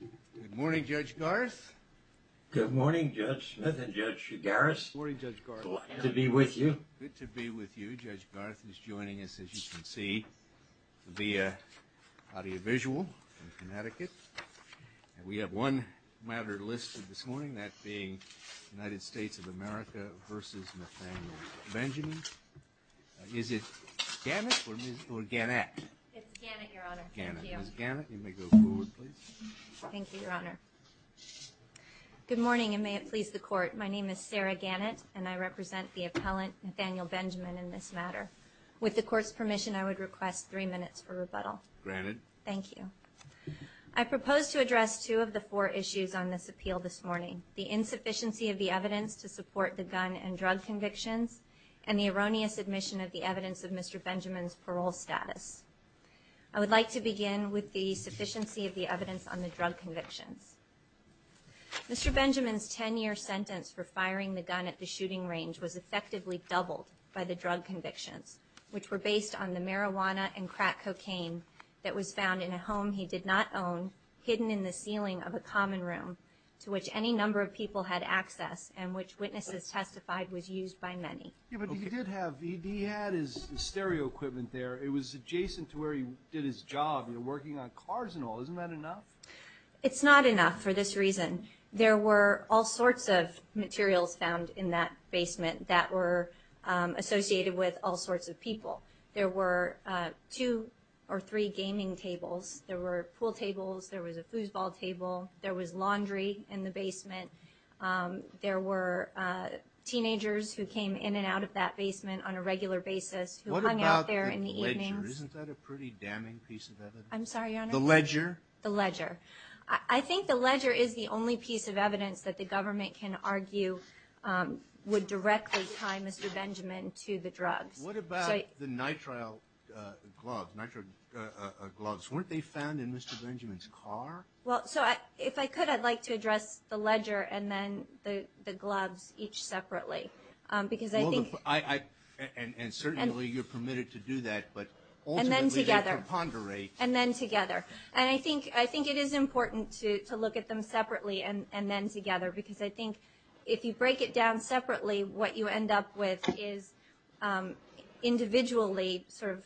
Good morning, Judge Garth, Judge Smith and Judge Garris, good to be with you, Judge Garth is joining us as you can see via audiovisual in Connecticut, we have one matter listed this morning, that being United States of America versus Nathaniel Benjamin, is it Gannett or Gannett? It's Gannett, Your Honor. Ms. Gannett, you may go forward, please. Thank you, Your Honor. Good morning, and may it please the Court, my name is Sarah Gannett, and I represent the appellant Nathaniel Benjamin in this matter. With the Court's permission, I would request three minutes for rebuttal. Granted. Thank you. I propose to address two of the four issues on this appeal this morning. The insufficiency of the evidence to support the gun and drug convictions, and the erroneous admission of the evidence of Mr. Benjamin's parole status. I would like to begin with the sufficiency of the evidence on the drug convictions. Mr. Benjamin's 10-year sentence for firing the gun at the shooting range was effectively doubled by the drug convictions, which were based on the marijuana and crack cocaine that was found in a home he did not own, hidden in the ceiling of a common room, to which any number of people had access, and which witnesses testified was used by many. Yeah, but he did have, he had his stereo equipment there, it was adjacent to where he did his job, you know, working on cars and all, isn't that enough? It's not enough for this reason. There were all sorts of materials found in that basement that were associated with all sorts of people. There were two or three gaming tables. There were pool tables. There was a foosball table. There was laundry in the basement. There were teenagers who came in and out of that basement on a regular basis who hung out there in the evenings. What about the ledger? I'm sorry, Your Honor? The ledger? The ledger. I think the ledger is the only piece of evidence that the government can argue would directly tie Mr. Benjamin to the drugs. What about the nitrile gloves, nitrile gloves? Weren't they found in Mr. Benjamin's car? Well, so if I could, I'd like to address the ledger and then the gloves each separately, because I think- And certainly you're permitted to do that, but ultimately- And then together. And I think it is important to look at them separately and then together, because I think if you break it down separately, what you end up with is individually sort of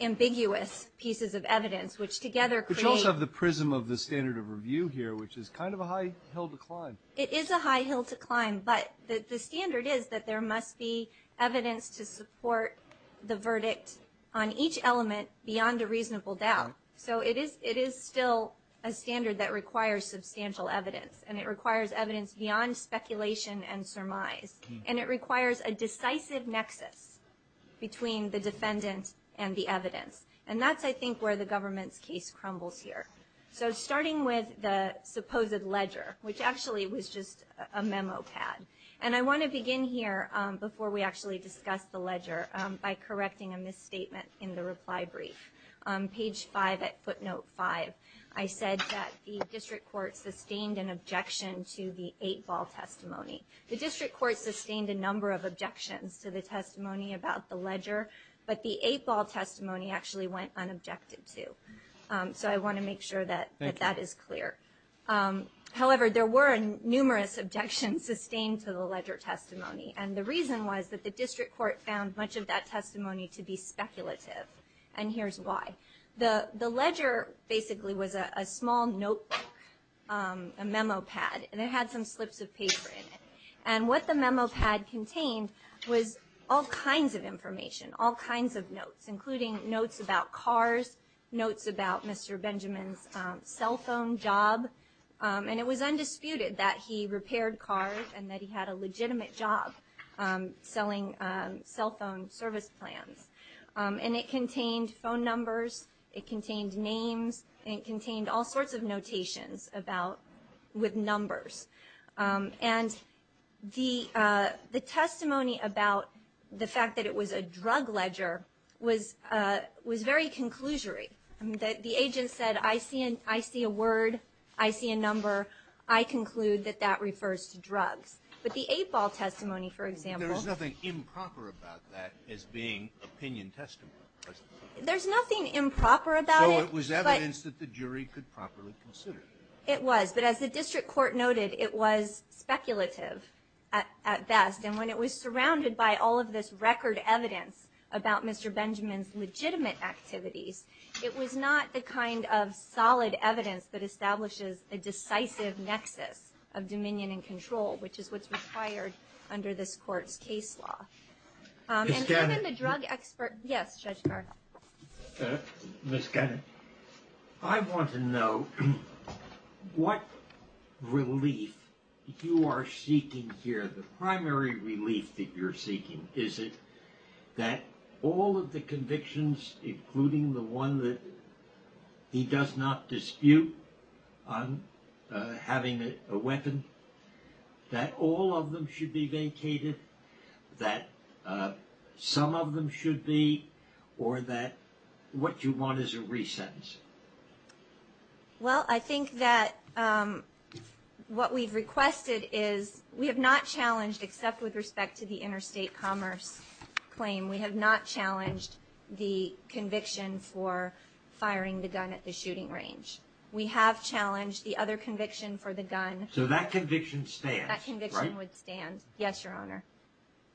ambiguous pieces of evidence, which together create- But you also have the prism of the standard of review here, which is kind of a high hill to climb. It is a high hill to climb, but the standard is that there must be evidence to support the verdict on each element beyond a reasonable doubt. So it is still a standard that requires substantial evidence, and it requires evidence beyond speculation and surmise. And it requires a decisive nexus between the defendant and the evidence. And that's, I think, where the government's case crumbles here. So starting with the supposed ledger, which actually was just a memo pad. And I want to begin here, before we actually discuss the ledger, by correcting a misstatement in the reply brief. On page 5 at footnote 5, I said that the district court sustained an objection to the 8-ball testimony. The district court sustained a number of objections to the testimony about the ledger, but the 8-ball testimony actually went unobjected to. So I want to make sure that that is clear. However, there were numerous objections sustained to the ledger testimony. And the reason was that the district court found much of that testimony to be speculative, and here's why. The ledger basically was a small notebook, a memo pad, and it had some slips of paper in it. And what the memo pad contained was all kinds of information, all kinds of notes, including notes about cars, notes about Mr. Benjamin's cell phone job. And it was undisputed that he repaired cars and that he had a legitimate job selling cell phone service plans. And it contained phone numbers, it contained names, and it contained all sorts of notations with numbers. And the testimony about the fact that it was a drug ledger was very conclusory. The agent said, I see a word, I see a number, I conclude that that refers to drugs. But the 8-ball testimony, for example. There's nothing improper about that as being opinion testimony. There's nothing improper about it. So it was evidence that the jury could properly consider. It was. But as the district court noted, it was speculative at best. And when it was surrounded by all of this record evidence about Mr. Benjamin's legitimate activities, it was not the kind of solid evidence that establishes a decisive nexus of dominion and control, which is what's required under this court's case law. And even the drug expert. Yes, Judge Carr. Ms. Gunning, I want to know what relief you are seeking here. The primary relief that you're seeking, is it that all of the convictions, including the one that he does not dispute on having a weapon, that all of them should be vacated, that some of them should be, or that what you want is a resentencing? Well, I think that what we've requested is we have not challenged, except with respect to the interstate commerce claim, we have not challenged the conviction for firing the gun at the shooting range. We have challenged the other conviction for the gun. So that conviction stands, right? That conviction would stand. Yes, Your Honor.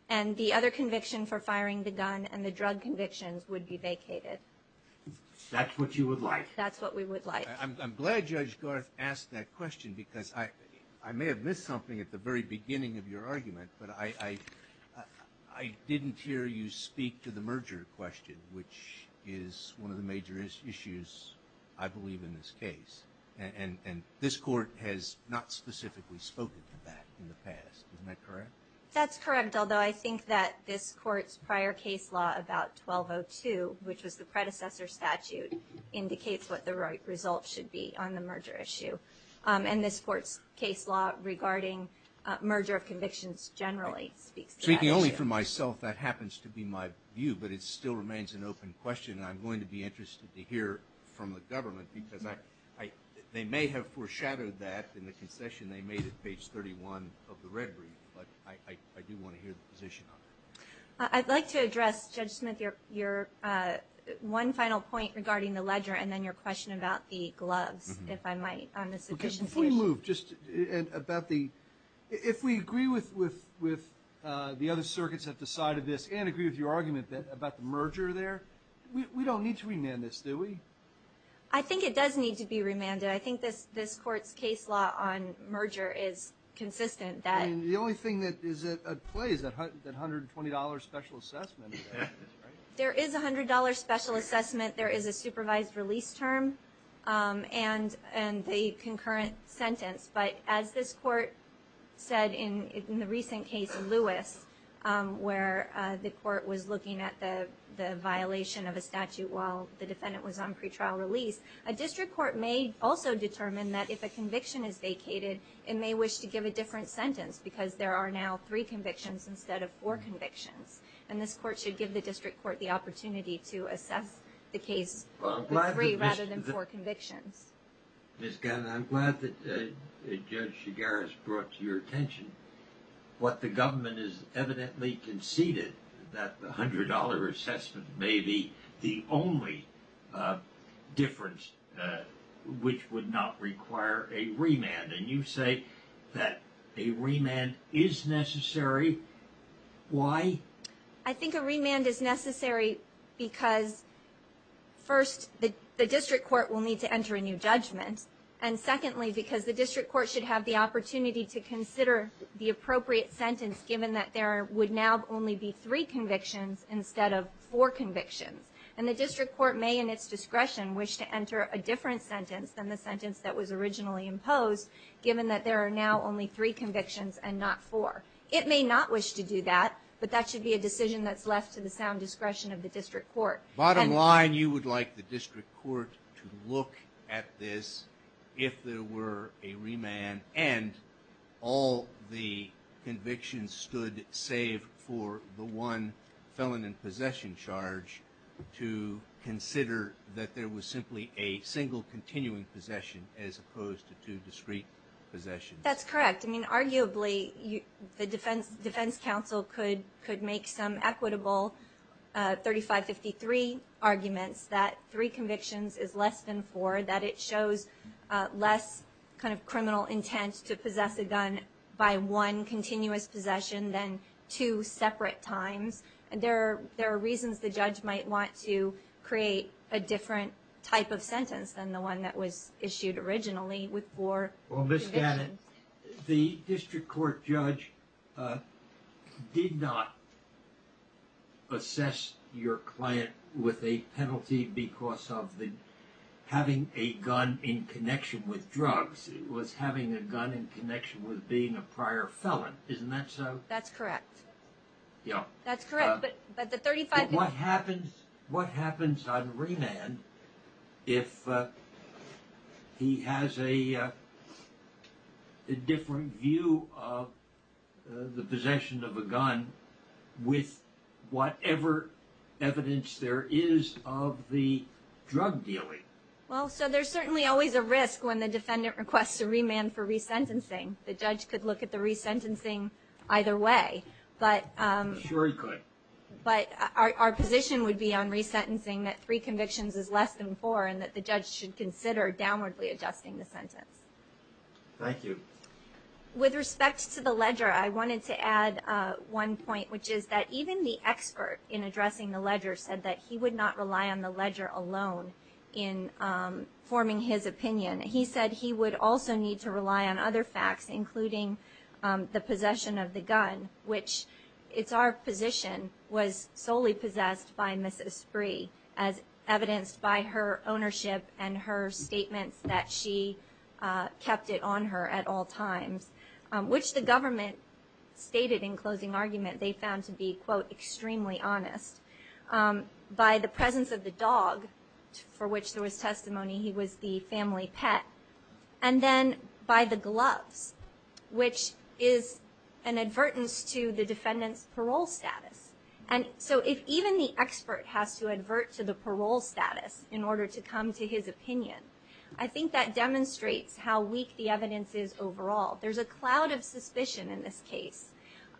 And the other conviction for firing the gun and the drug convictions would be vacated. That's what you would like? That's what we would like. I'm glad Judge Garth asked that question, because I may have missed something at the very beginning of your argument, but I didn't hear you speak to the merger question, which is one of the major issues, I believe, in this case. And this Court has not specifically spoken to that in the past. Isn't that correct? That's correct, although I think that this Court's prior case law about 1202, which was the predecessor statute, indicates what the right results should be on the merger issue. And this Court's case law regarding merger of convictions generally speaks to that issue. Speaking only for myself, that happens to be my view, but it still remains an open question, and I'm going to be interested to hear from the government, because they may have foreshadowed that in the concession they made at page 31 of the red brief, but I do want to hear the position on that. I'd like to address, Judge Smith, your one final point regarding the ledger and then your question about the gloves, if I might, on this addition to the issue. Before you move, just about the ‑‑ if we agree with the other circuits that have decided this and agree with your argument about the merger there, we don't need to remand this, do we? I think it does need to be remanded. I think this Court's case law on merger is consistent. I mean, the only thing that is at play is that $120 special assessment. There is a $100 special assessment. There is a supervised release term and the concurrent sentence. But as this Court said in the recent case in Lewis, where the Court was looking at the violation of a statute while the defendant was on pretrial release, a district court may also determine that if a conviction is vacated, it may wish to give a different sentence, because there are now three convictions instead of four convictions. And this Court should give the district court the opportunity to assess the case with three rather than four convictions. Ms. Gannon, I'm glad that Judge Shigaris brought to your attention what the government has evidently conceded, that the $100 assessment may be the only difference which would not require a remand. And you say that a remand is necessary. Why? I think a remand is necessary because, first, the district court will need to enter a new judgment, and secondly, because the district court should have the opportunity to consider the appropriate sentence, given that there would now only be three convictions instead of four convictions. And the district court may, in its discretion, wish to enter a different sentence than the sentence that was originally imposed, given that there are now only three convictions and not four. It may not wish to do that, but that should be a decision that's left to the sound discretion of the district court. Bottom line, you would like the district court to look at this if there were a remand and all the convictions stood, save for the one felon in possession charge, to consider that there was simply a single continuing possession as opposed to two discrete possessions. That's correct. I mean, arguably, the defense counsel could make some equitable 3553 arguments that three convictions is less than four, that it shows less kind of criminal intent to possess a gun by one continuous possession than two separate times. There are reasons the judge might want to create a different type of sentence than the one that was issued originally with four convictions. Well, Ms. Gannon, the district court judge did not assess your client with a penalty because of having a gun in connection with drugs. It was having a gun in connection with being a prior felon. Isn't that so? That's correct. Yeah. That's correct. But what happens on remand if he has a different view of the possession of a gun with whatever evidence there is of the drug dealing? Well, so there's certainly always a risk when the defendant requests a remand for resentencing. The judge could look at the resentencing either way. I'm sure he could. But our position would be on resentencing that three convictions is less than four and that the judge should consider downwardly adjusting the sentence. Thank you. With respect to the ledger, I wanted to add one point, which is that even the expert in addressing the ledger said that he would not rely on the ledger alone in forming his opinion. He said he would also need to rely on other facts, including the possession of the gun, which it's our position was solely possessed by Mrs. Spree, as evidenced by her ownership and her statements that she kept it on her at all times, which the government stated in closing argument they found to be, quote, extremely honest. By the presence of the dog, for which there was testimony he was the family pet, and then by the gloves, which is an advertence to the defendant's parole status. And so if even the expert has to advert to the parole status in order to come to his opinion, I think that demonstrates how weak the evidence is overall. There's a cloud of suspicion in this case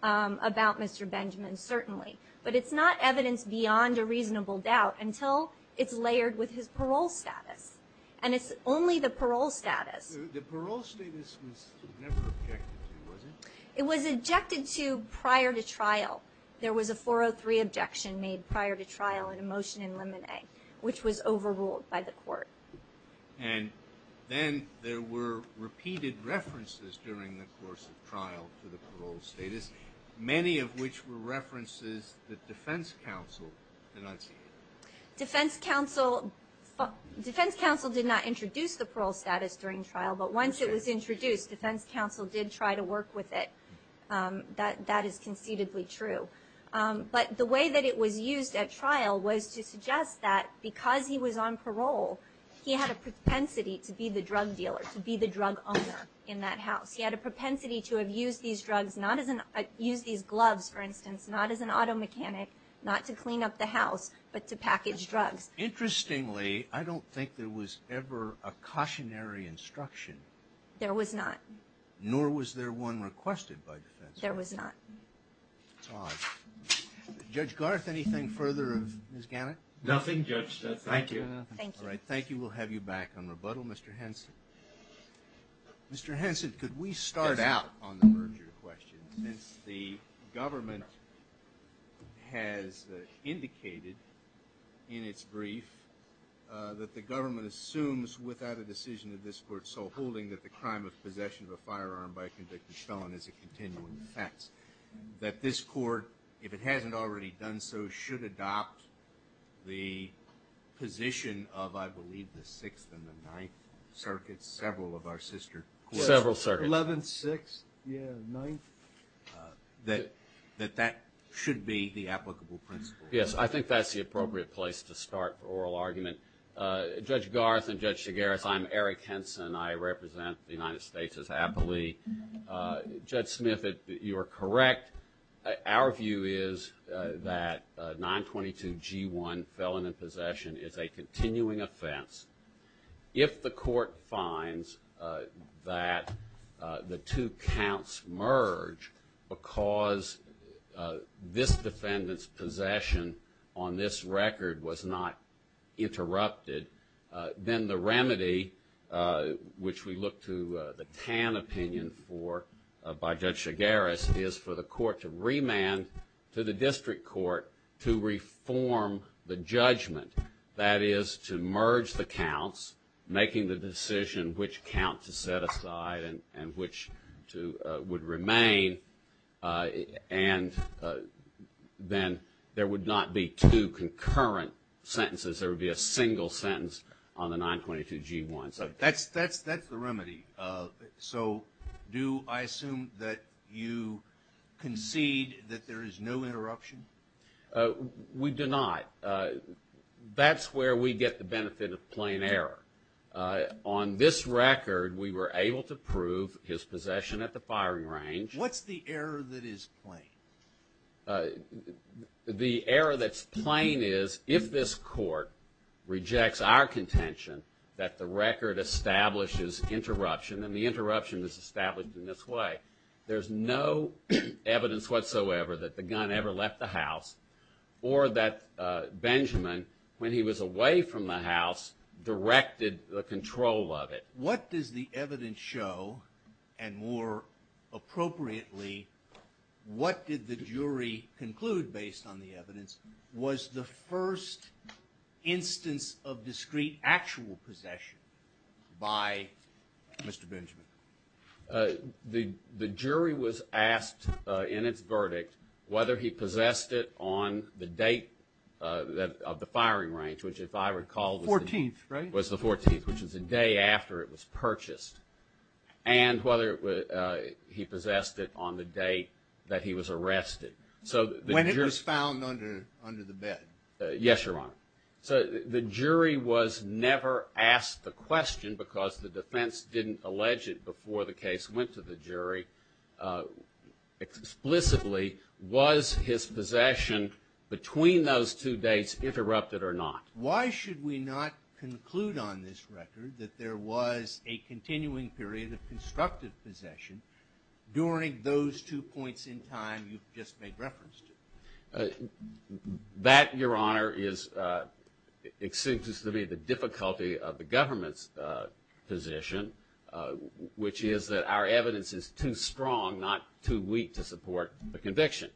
about Mr. Benjamin, certainly. But it's not evidence beyond a reasonable doubt until it's layered with his parole status. And it's only the parole status. The parole status was never objected to, was it? It was objected to prior to trial. There was a 403 objection made prior to trial in a motion in Lemonet, which was overruled by the court. And then there were repeated references during the course of trial to the parole status, many of which were references that defense counsel denounced. Defense counsel did not introduce the parole status during trial. But once it was introduced, defense counsel did try to work with it. That is concededly true. But the way that it was used at trial was to suggest that because he was on parole, he had a propensity to be the drug dealer, to be the drug owner in that house. He had a propensity to have used these drugs, used these gloves, for instance, not as an auto mechanic, not to clean up the house, but to package drugs. Interestingly, I don't think there was ever a cautionary instruction. There was not. Nor was there one requested by defense. There was not. That's odd. Judge Garth, anything further of Ms. Gannett? Nothing, Judge. Thank you. All right, thank you. We'll have you back on rebuttal, Mr. Henson. Mr. Henson, could we start out on the merger question? Since the government has indicated in its brief that the government assumes without a decision of this court sole holding that the crime of possession of a firearm by a convicted felon is a continuing offense, that this court, if it hasn't already done so, should adopt the position of, I believe, the Sixth and the Ninth Circuits, several of our sister courts. Several circuits. Eleventh, Sixth, yeah, Ninth. That that should be the applicable principle. Yes, I think that's the appropriate place to start for oral argument. Judge Garth and Judge Segaris, I'm Eric Henson. I represent the United States as aptly. Judge Smith, you are correct. Our view is that 922G1, felon in possession, is a continuing offense. If the court finds that the two counts merge because this defendant's possession on this record was not interrupted, then the remedy, which we look to the Tan opinion for by Judge Segaris, is for the court to remand to the district court to reform the judgment. That is, to merge the counts, making the decision which count to set aside and which would remain, and then there would not be two concurrent sentences. There would be a single sentence on the 922G1. So that's the remedy. So do I assume that you concede that there is no interruption? We do not. That's where we get the benefit of plain error. On this record, we were able to prove his possession at the firing range. What's the error that is plain? The error that's plain is if this court rejects our contention that the record establishes interruption, and the interruption is established in this way, there's no evidence whatsoever that the gun ever left the house or that Benjamin, when he was away from the house, directed the control of it. What does the evidence show? And more appropriately, what did the jury conclude based on the evidence? Was the first instance of discrete actual possession by Mr. Benjamin? The jury was asked in its verdict whether he possessed it on the date of the firing range, which if I recall was the 14th, which was the day after it was purchased, and whether he possessed it on the day that he was arrested. When it was found under the bed? Yes, Your Honor. So the jury was never asked the question because the defense didn't allege it before the case went to the jury. Explicitly, was his possession between those two dates interrupted or not? Why should we not conclude on this record that there was a continuing period of constructive possession during those two points in time you've just made reference to? That, Your Honor, seems to me the difficulty of the government's position, which is that our evidence is too strong, not too weak, to support the conviction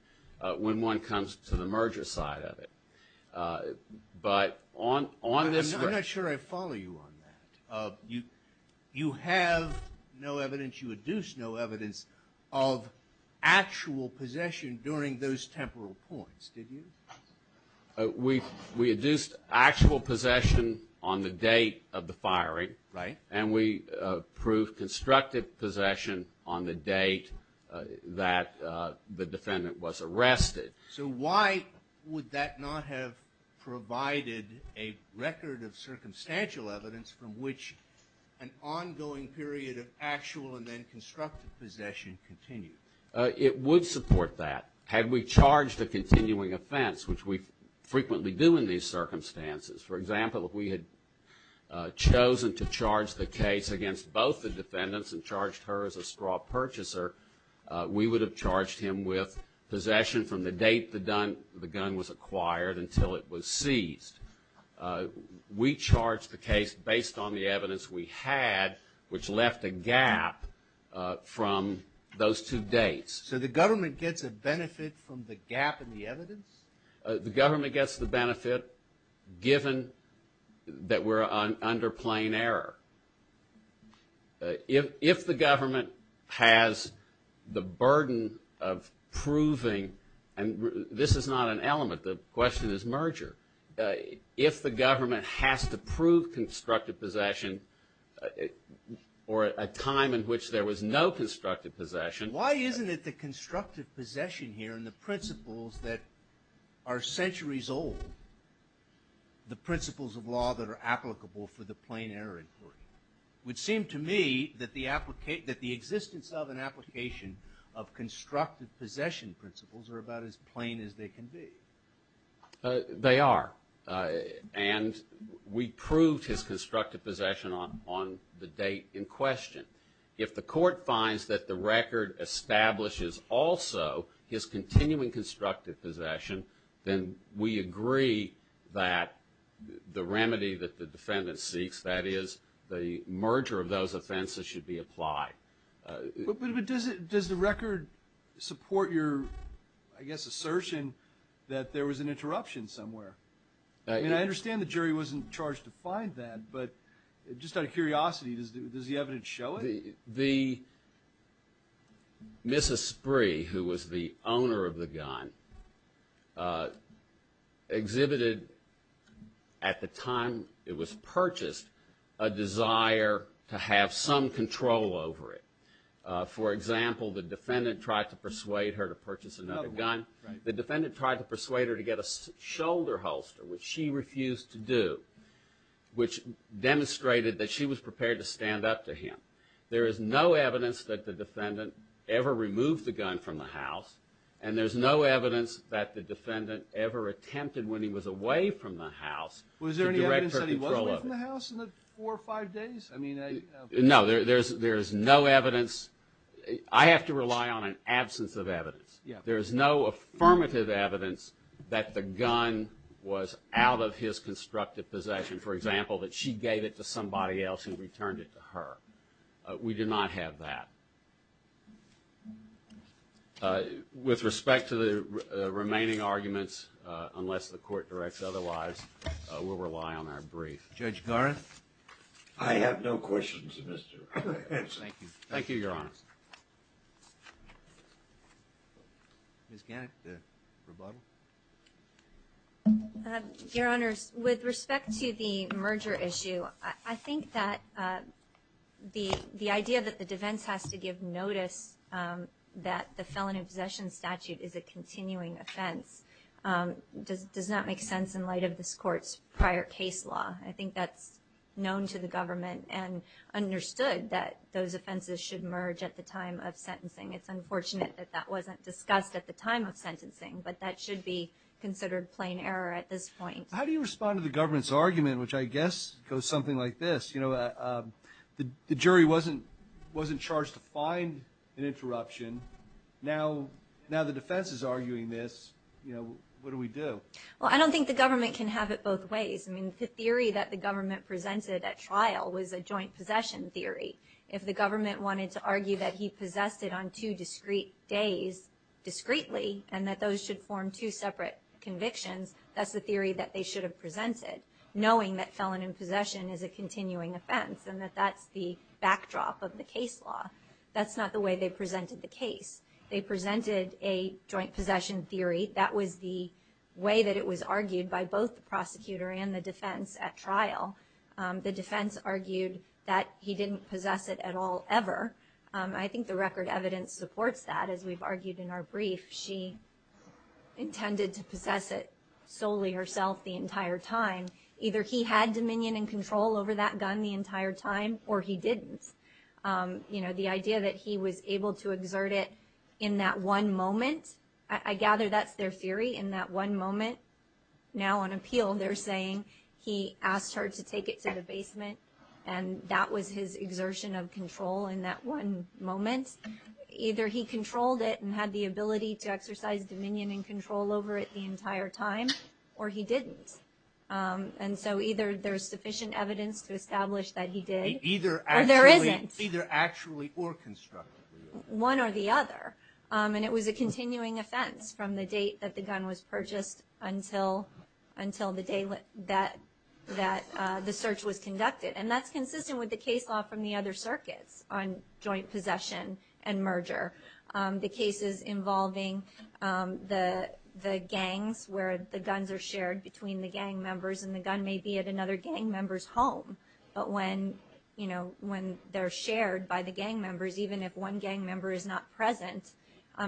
when one comes to the merger side of it. But on this record- I'm not sure I follow you on that. You have no evidence, you adduced no evidence of actual possession during those temporal points, did you? We adduced actual possession on the date of the firing. Right. And we proved constructive possession on the date that the defendant was arrested. So why would that not have provided a record of circumstantial evidence from which an ongoing period of actual and then constructive possession continued? It would support that had we charged a continuing offense, which we frequently do in these circumstances. For example, if we had chosen to charge the case against both the defendants and charged her as a straw purchaser, we would have charged him with possession from the date the gun was acquired until it was seized. We charged the case based on the evidence we had, which left a gap from those two dates. So the government gets a benefit from the gap in the evidence? The government gets the benefit given that we're under plain error. If the government has the burden of proving, and this is not an element. The question is merger. If the government has to prove constructive possession or a time in which there was no constructive possession. Why isn't it the constructive possession here and the principles that are centuries old, the principles of law that are applicable for the plain error inquiry? It would seem to me that the existence of an application of constructive possession principles are about as plain as they can be. They are. And we proved his constructive possession on the date in question. If the court finds that the record establishes also his continuing constructive possession, then we agree that the remedy that the defendant seeks, that is, the merger of those offenses, should be applied. But does the record support your, I guess, assertion that there was an interruption somewhere? I mean, I understand the jury wasn't charged to find that, but just out of curiosity, does the evidence show it? The Mrs. Spree, who was the owner of the gun, exhibited at the time it was purchased a desire to have some control over it. For example, the defendant tried to persuade her to purchase another gun. The defendant tried to persuade her to get a shoulder holster, which she refused to do, which demonstrated that she was prepared to stand up to him. There is no evidence that the defendant ever removed the gun from the house, and there's no evidence that the defendant ever attempted, when he was away from the house, to direct her control of it. Was there any evidence that he was away from the house in the four or five days? No, there's no evidence. I have to rely on an absence of evidence. There is no affirmative evidence that the gun was out of his constructive possession. For example, that she gave it to somebody else who returned it to her. We did not have that. With respect to the remaining arguments, unless the court directs otherwise, we'll rely on our brief. Judge Gareth? I have no questions, Mr. Adams. Thank you. Thank you, Your Honor. Ms. Gannett, the rebuttal. Your Honors, with respect to the merger issue, I think that the idea that the defense has to give notice that the felony possession statute is a continuing offense does not make sense in light of this Court's prior case law. I think that's known to the government and understood that those offenses should merge at the time of sentencing. It's unfortunate that that wasn't discussed at the time of sentencing, but that should be considered plain error at this point. How do you respond to the government's argument, which I guess goes something like this? The jury wasn't charged to find an interruption. Now the defense is arguing this. What do we do? I don't think the government can have it both ways. I mean, the theory that the government presented at trial was a joint possession theory. If the government wanted to argue that he possessed it on two discrete days discreetly and that those should form two separate convictions, that's the theory that they should have presented, knowing that felony possession is a continuing offense and that that's the backdrop of the case law. That's not the way they presented the case. They presented a joint possession theory. That was the way that it was argued by both the prosecutor and the defense at trial. The defense argued that he didn't possess it at all ever. I think the record evidence supports that. As we've argued in our brief, she intended to possess it solely herself the entire time. Either he had dominion and control over that gun the entire time or he didn't. The idea that he was able to exert it in that one moment, I gather that's their theory, in that one moment. Now on appeal they're saying he asked her to take it to the basement, and that was his exertion of control in that one moment. Either he controlled it and had the ability to exercise dominion and control over it the entire time or he didn't. And so either there's sufficient evidence to establish that he did. Or there isn't. Either actually or constructively. One or the other. And it was a continuing offense from the date that the gun was purchased until the day that the search was conducted. And that's consistent with the case law from the other circuits on joint possession and merger. The cases involving the gangs where the guns are shared between the gang members and the gun may be at another gang member's home. But when they're shared by the gang members, even if one gang member is not present,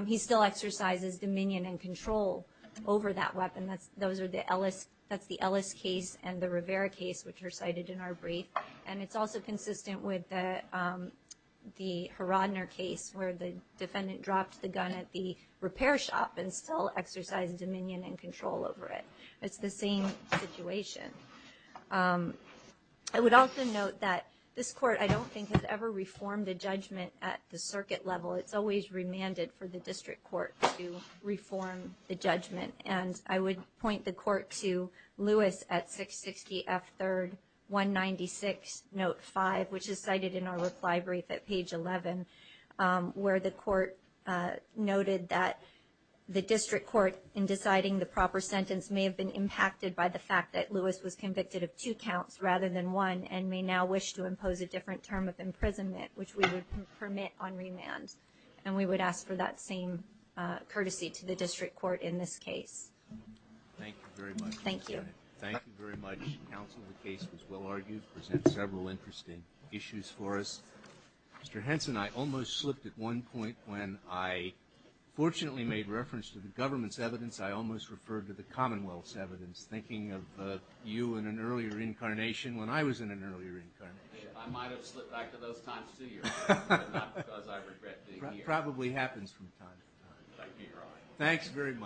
he still exercises dominion and control over that weapon. That's the Ellis case and the Rivera case, which are cited in our brief. And it's also consistent with the Harodner case where the defendant dropped the gun at the repair shop and still exercised dominion and control over it. It's the same situation. I would also note that this court, I don't think, has ever reformed a judgment at the circuit level. It's always remanded for the district court to reform the judgment. And I would point the court to Lewis at 660 F3rd 196 Note 5, which is cited in our reply brief at page 11, where the court noted that the district court, in deciding the proper sentence, may have been impacted by the fact that Lewis was convicted of two counts rather than one and may now wish to impose a different term of imprisonment, which we would permit on remand. And we would ask for that same courtesy to the district court in this case. Thank you very much. Thank you. Thank you very much, counsel. The case was well argued. It presents several interesting issues for us. Mr. Henson, I almost slipped at one point when I fortunately made reference to the government's evidence. I almost referred to the Commonwealth's evidence, thinking of you in an earlier incarnation when I was in an earlier incarnation. I might have slipped back to those times, too, Your Honor, but not because I regret being here. It probably happens from time to time. Thank you, Your Honor. Thanks very much.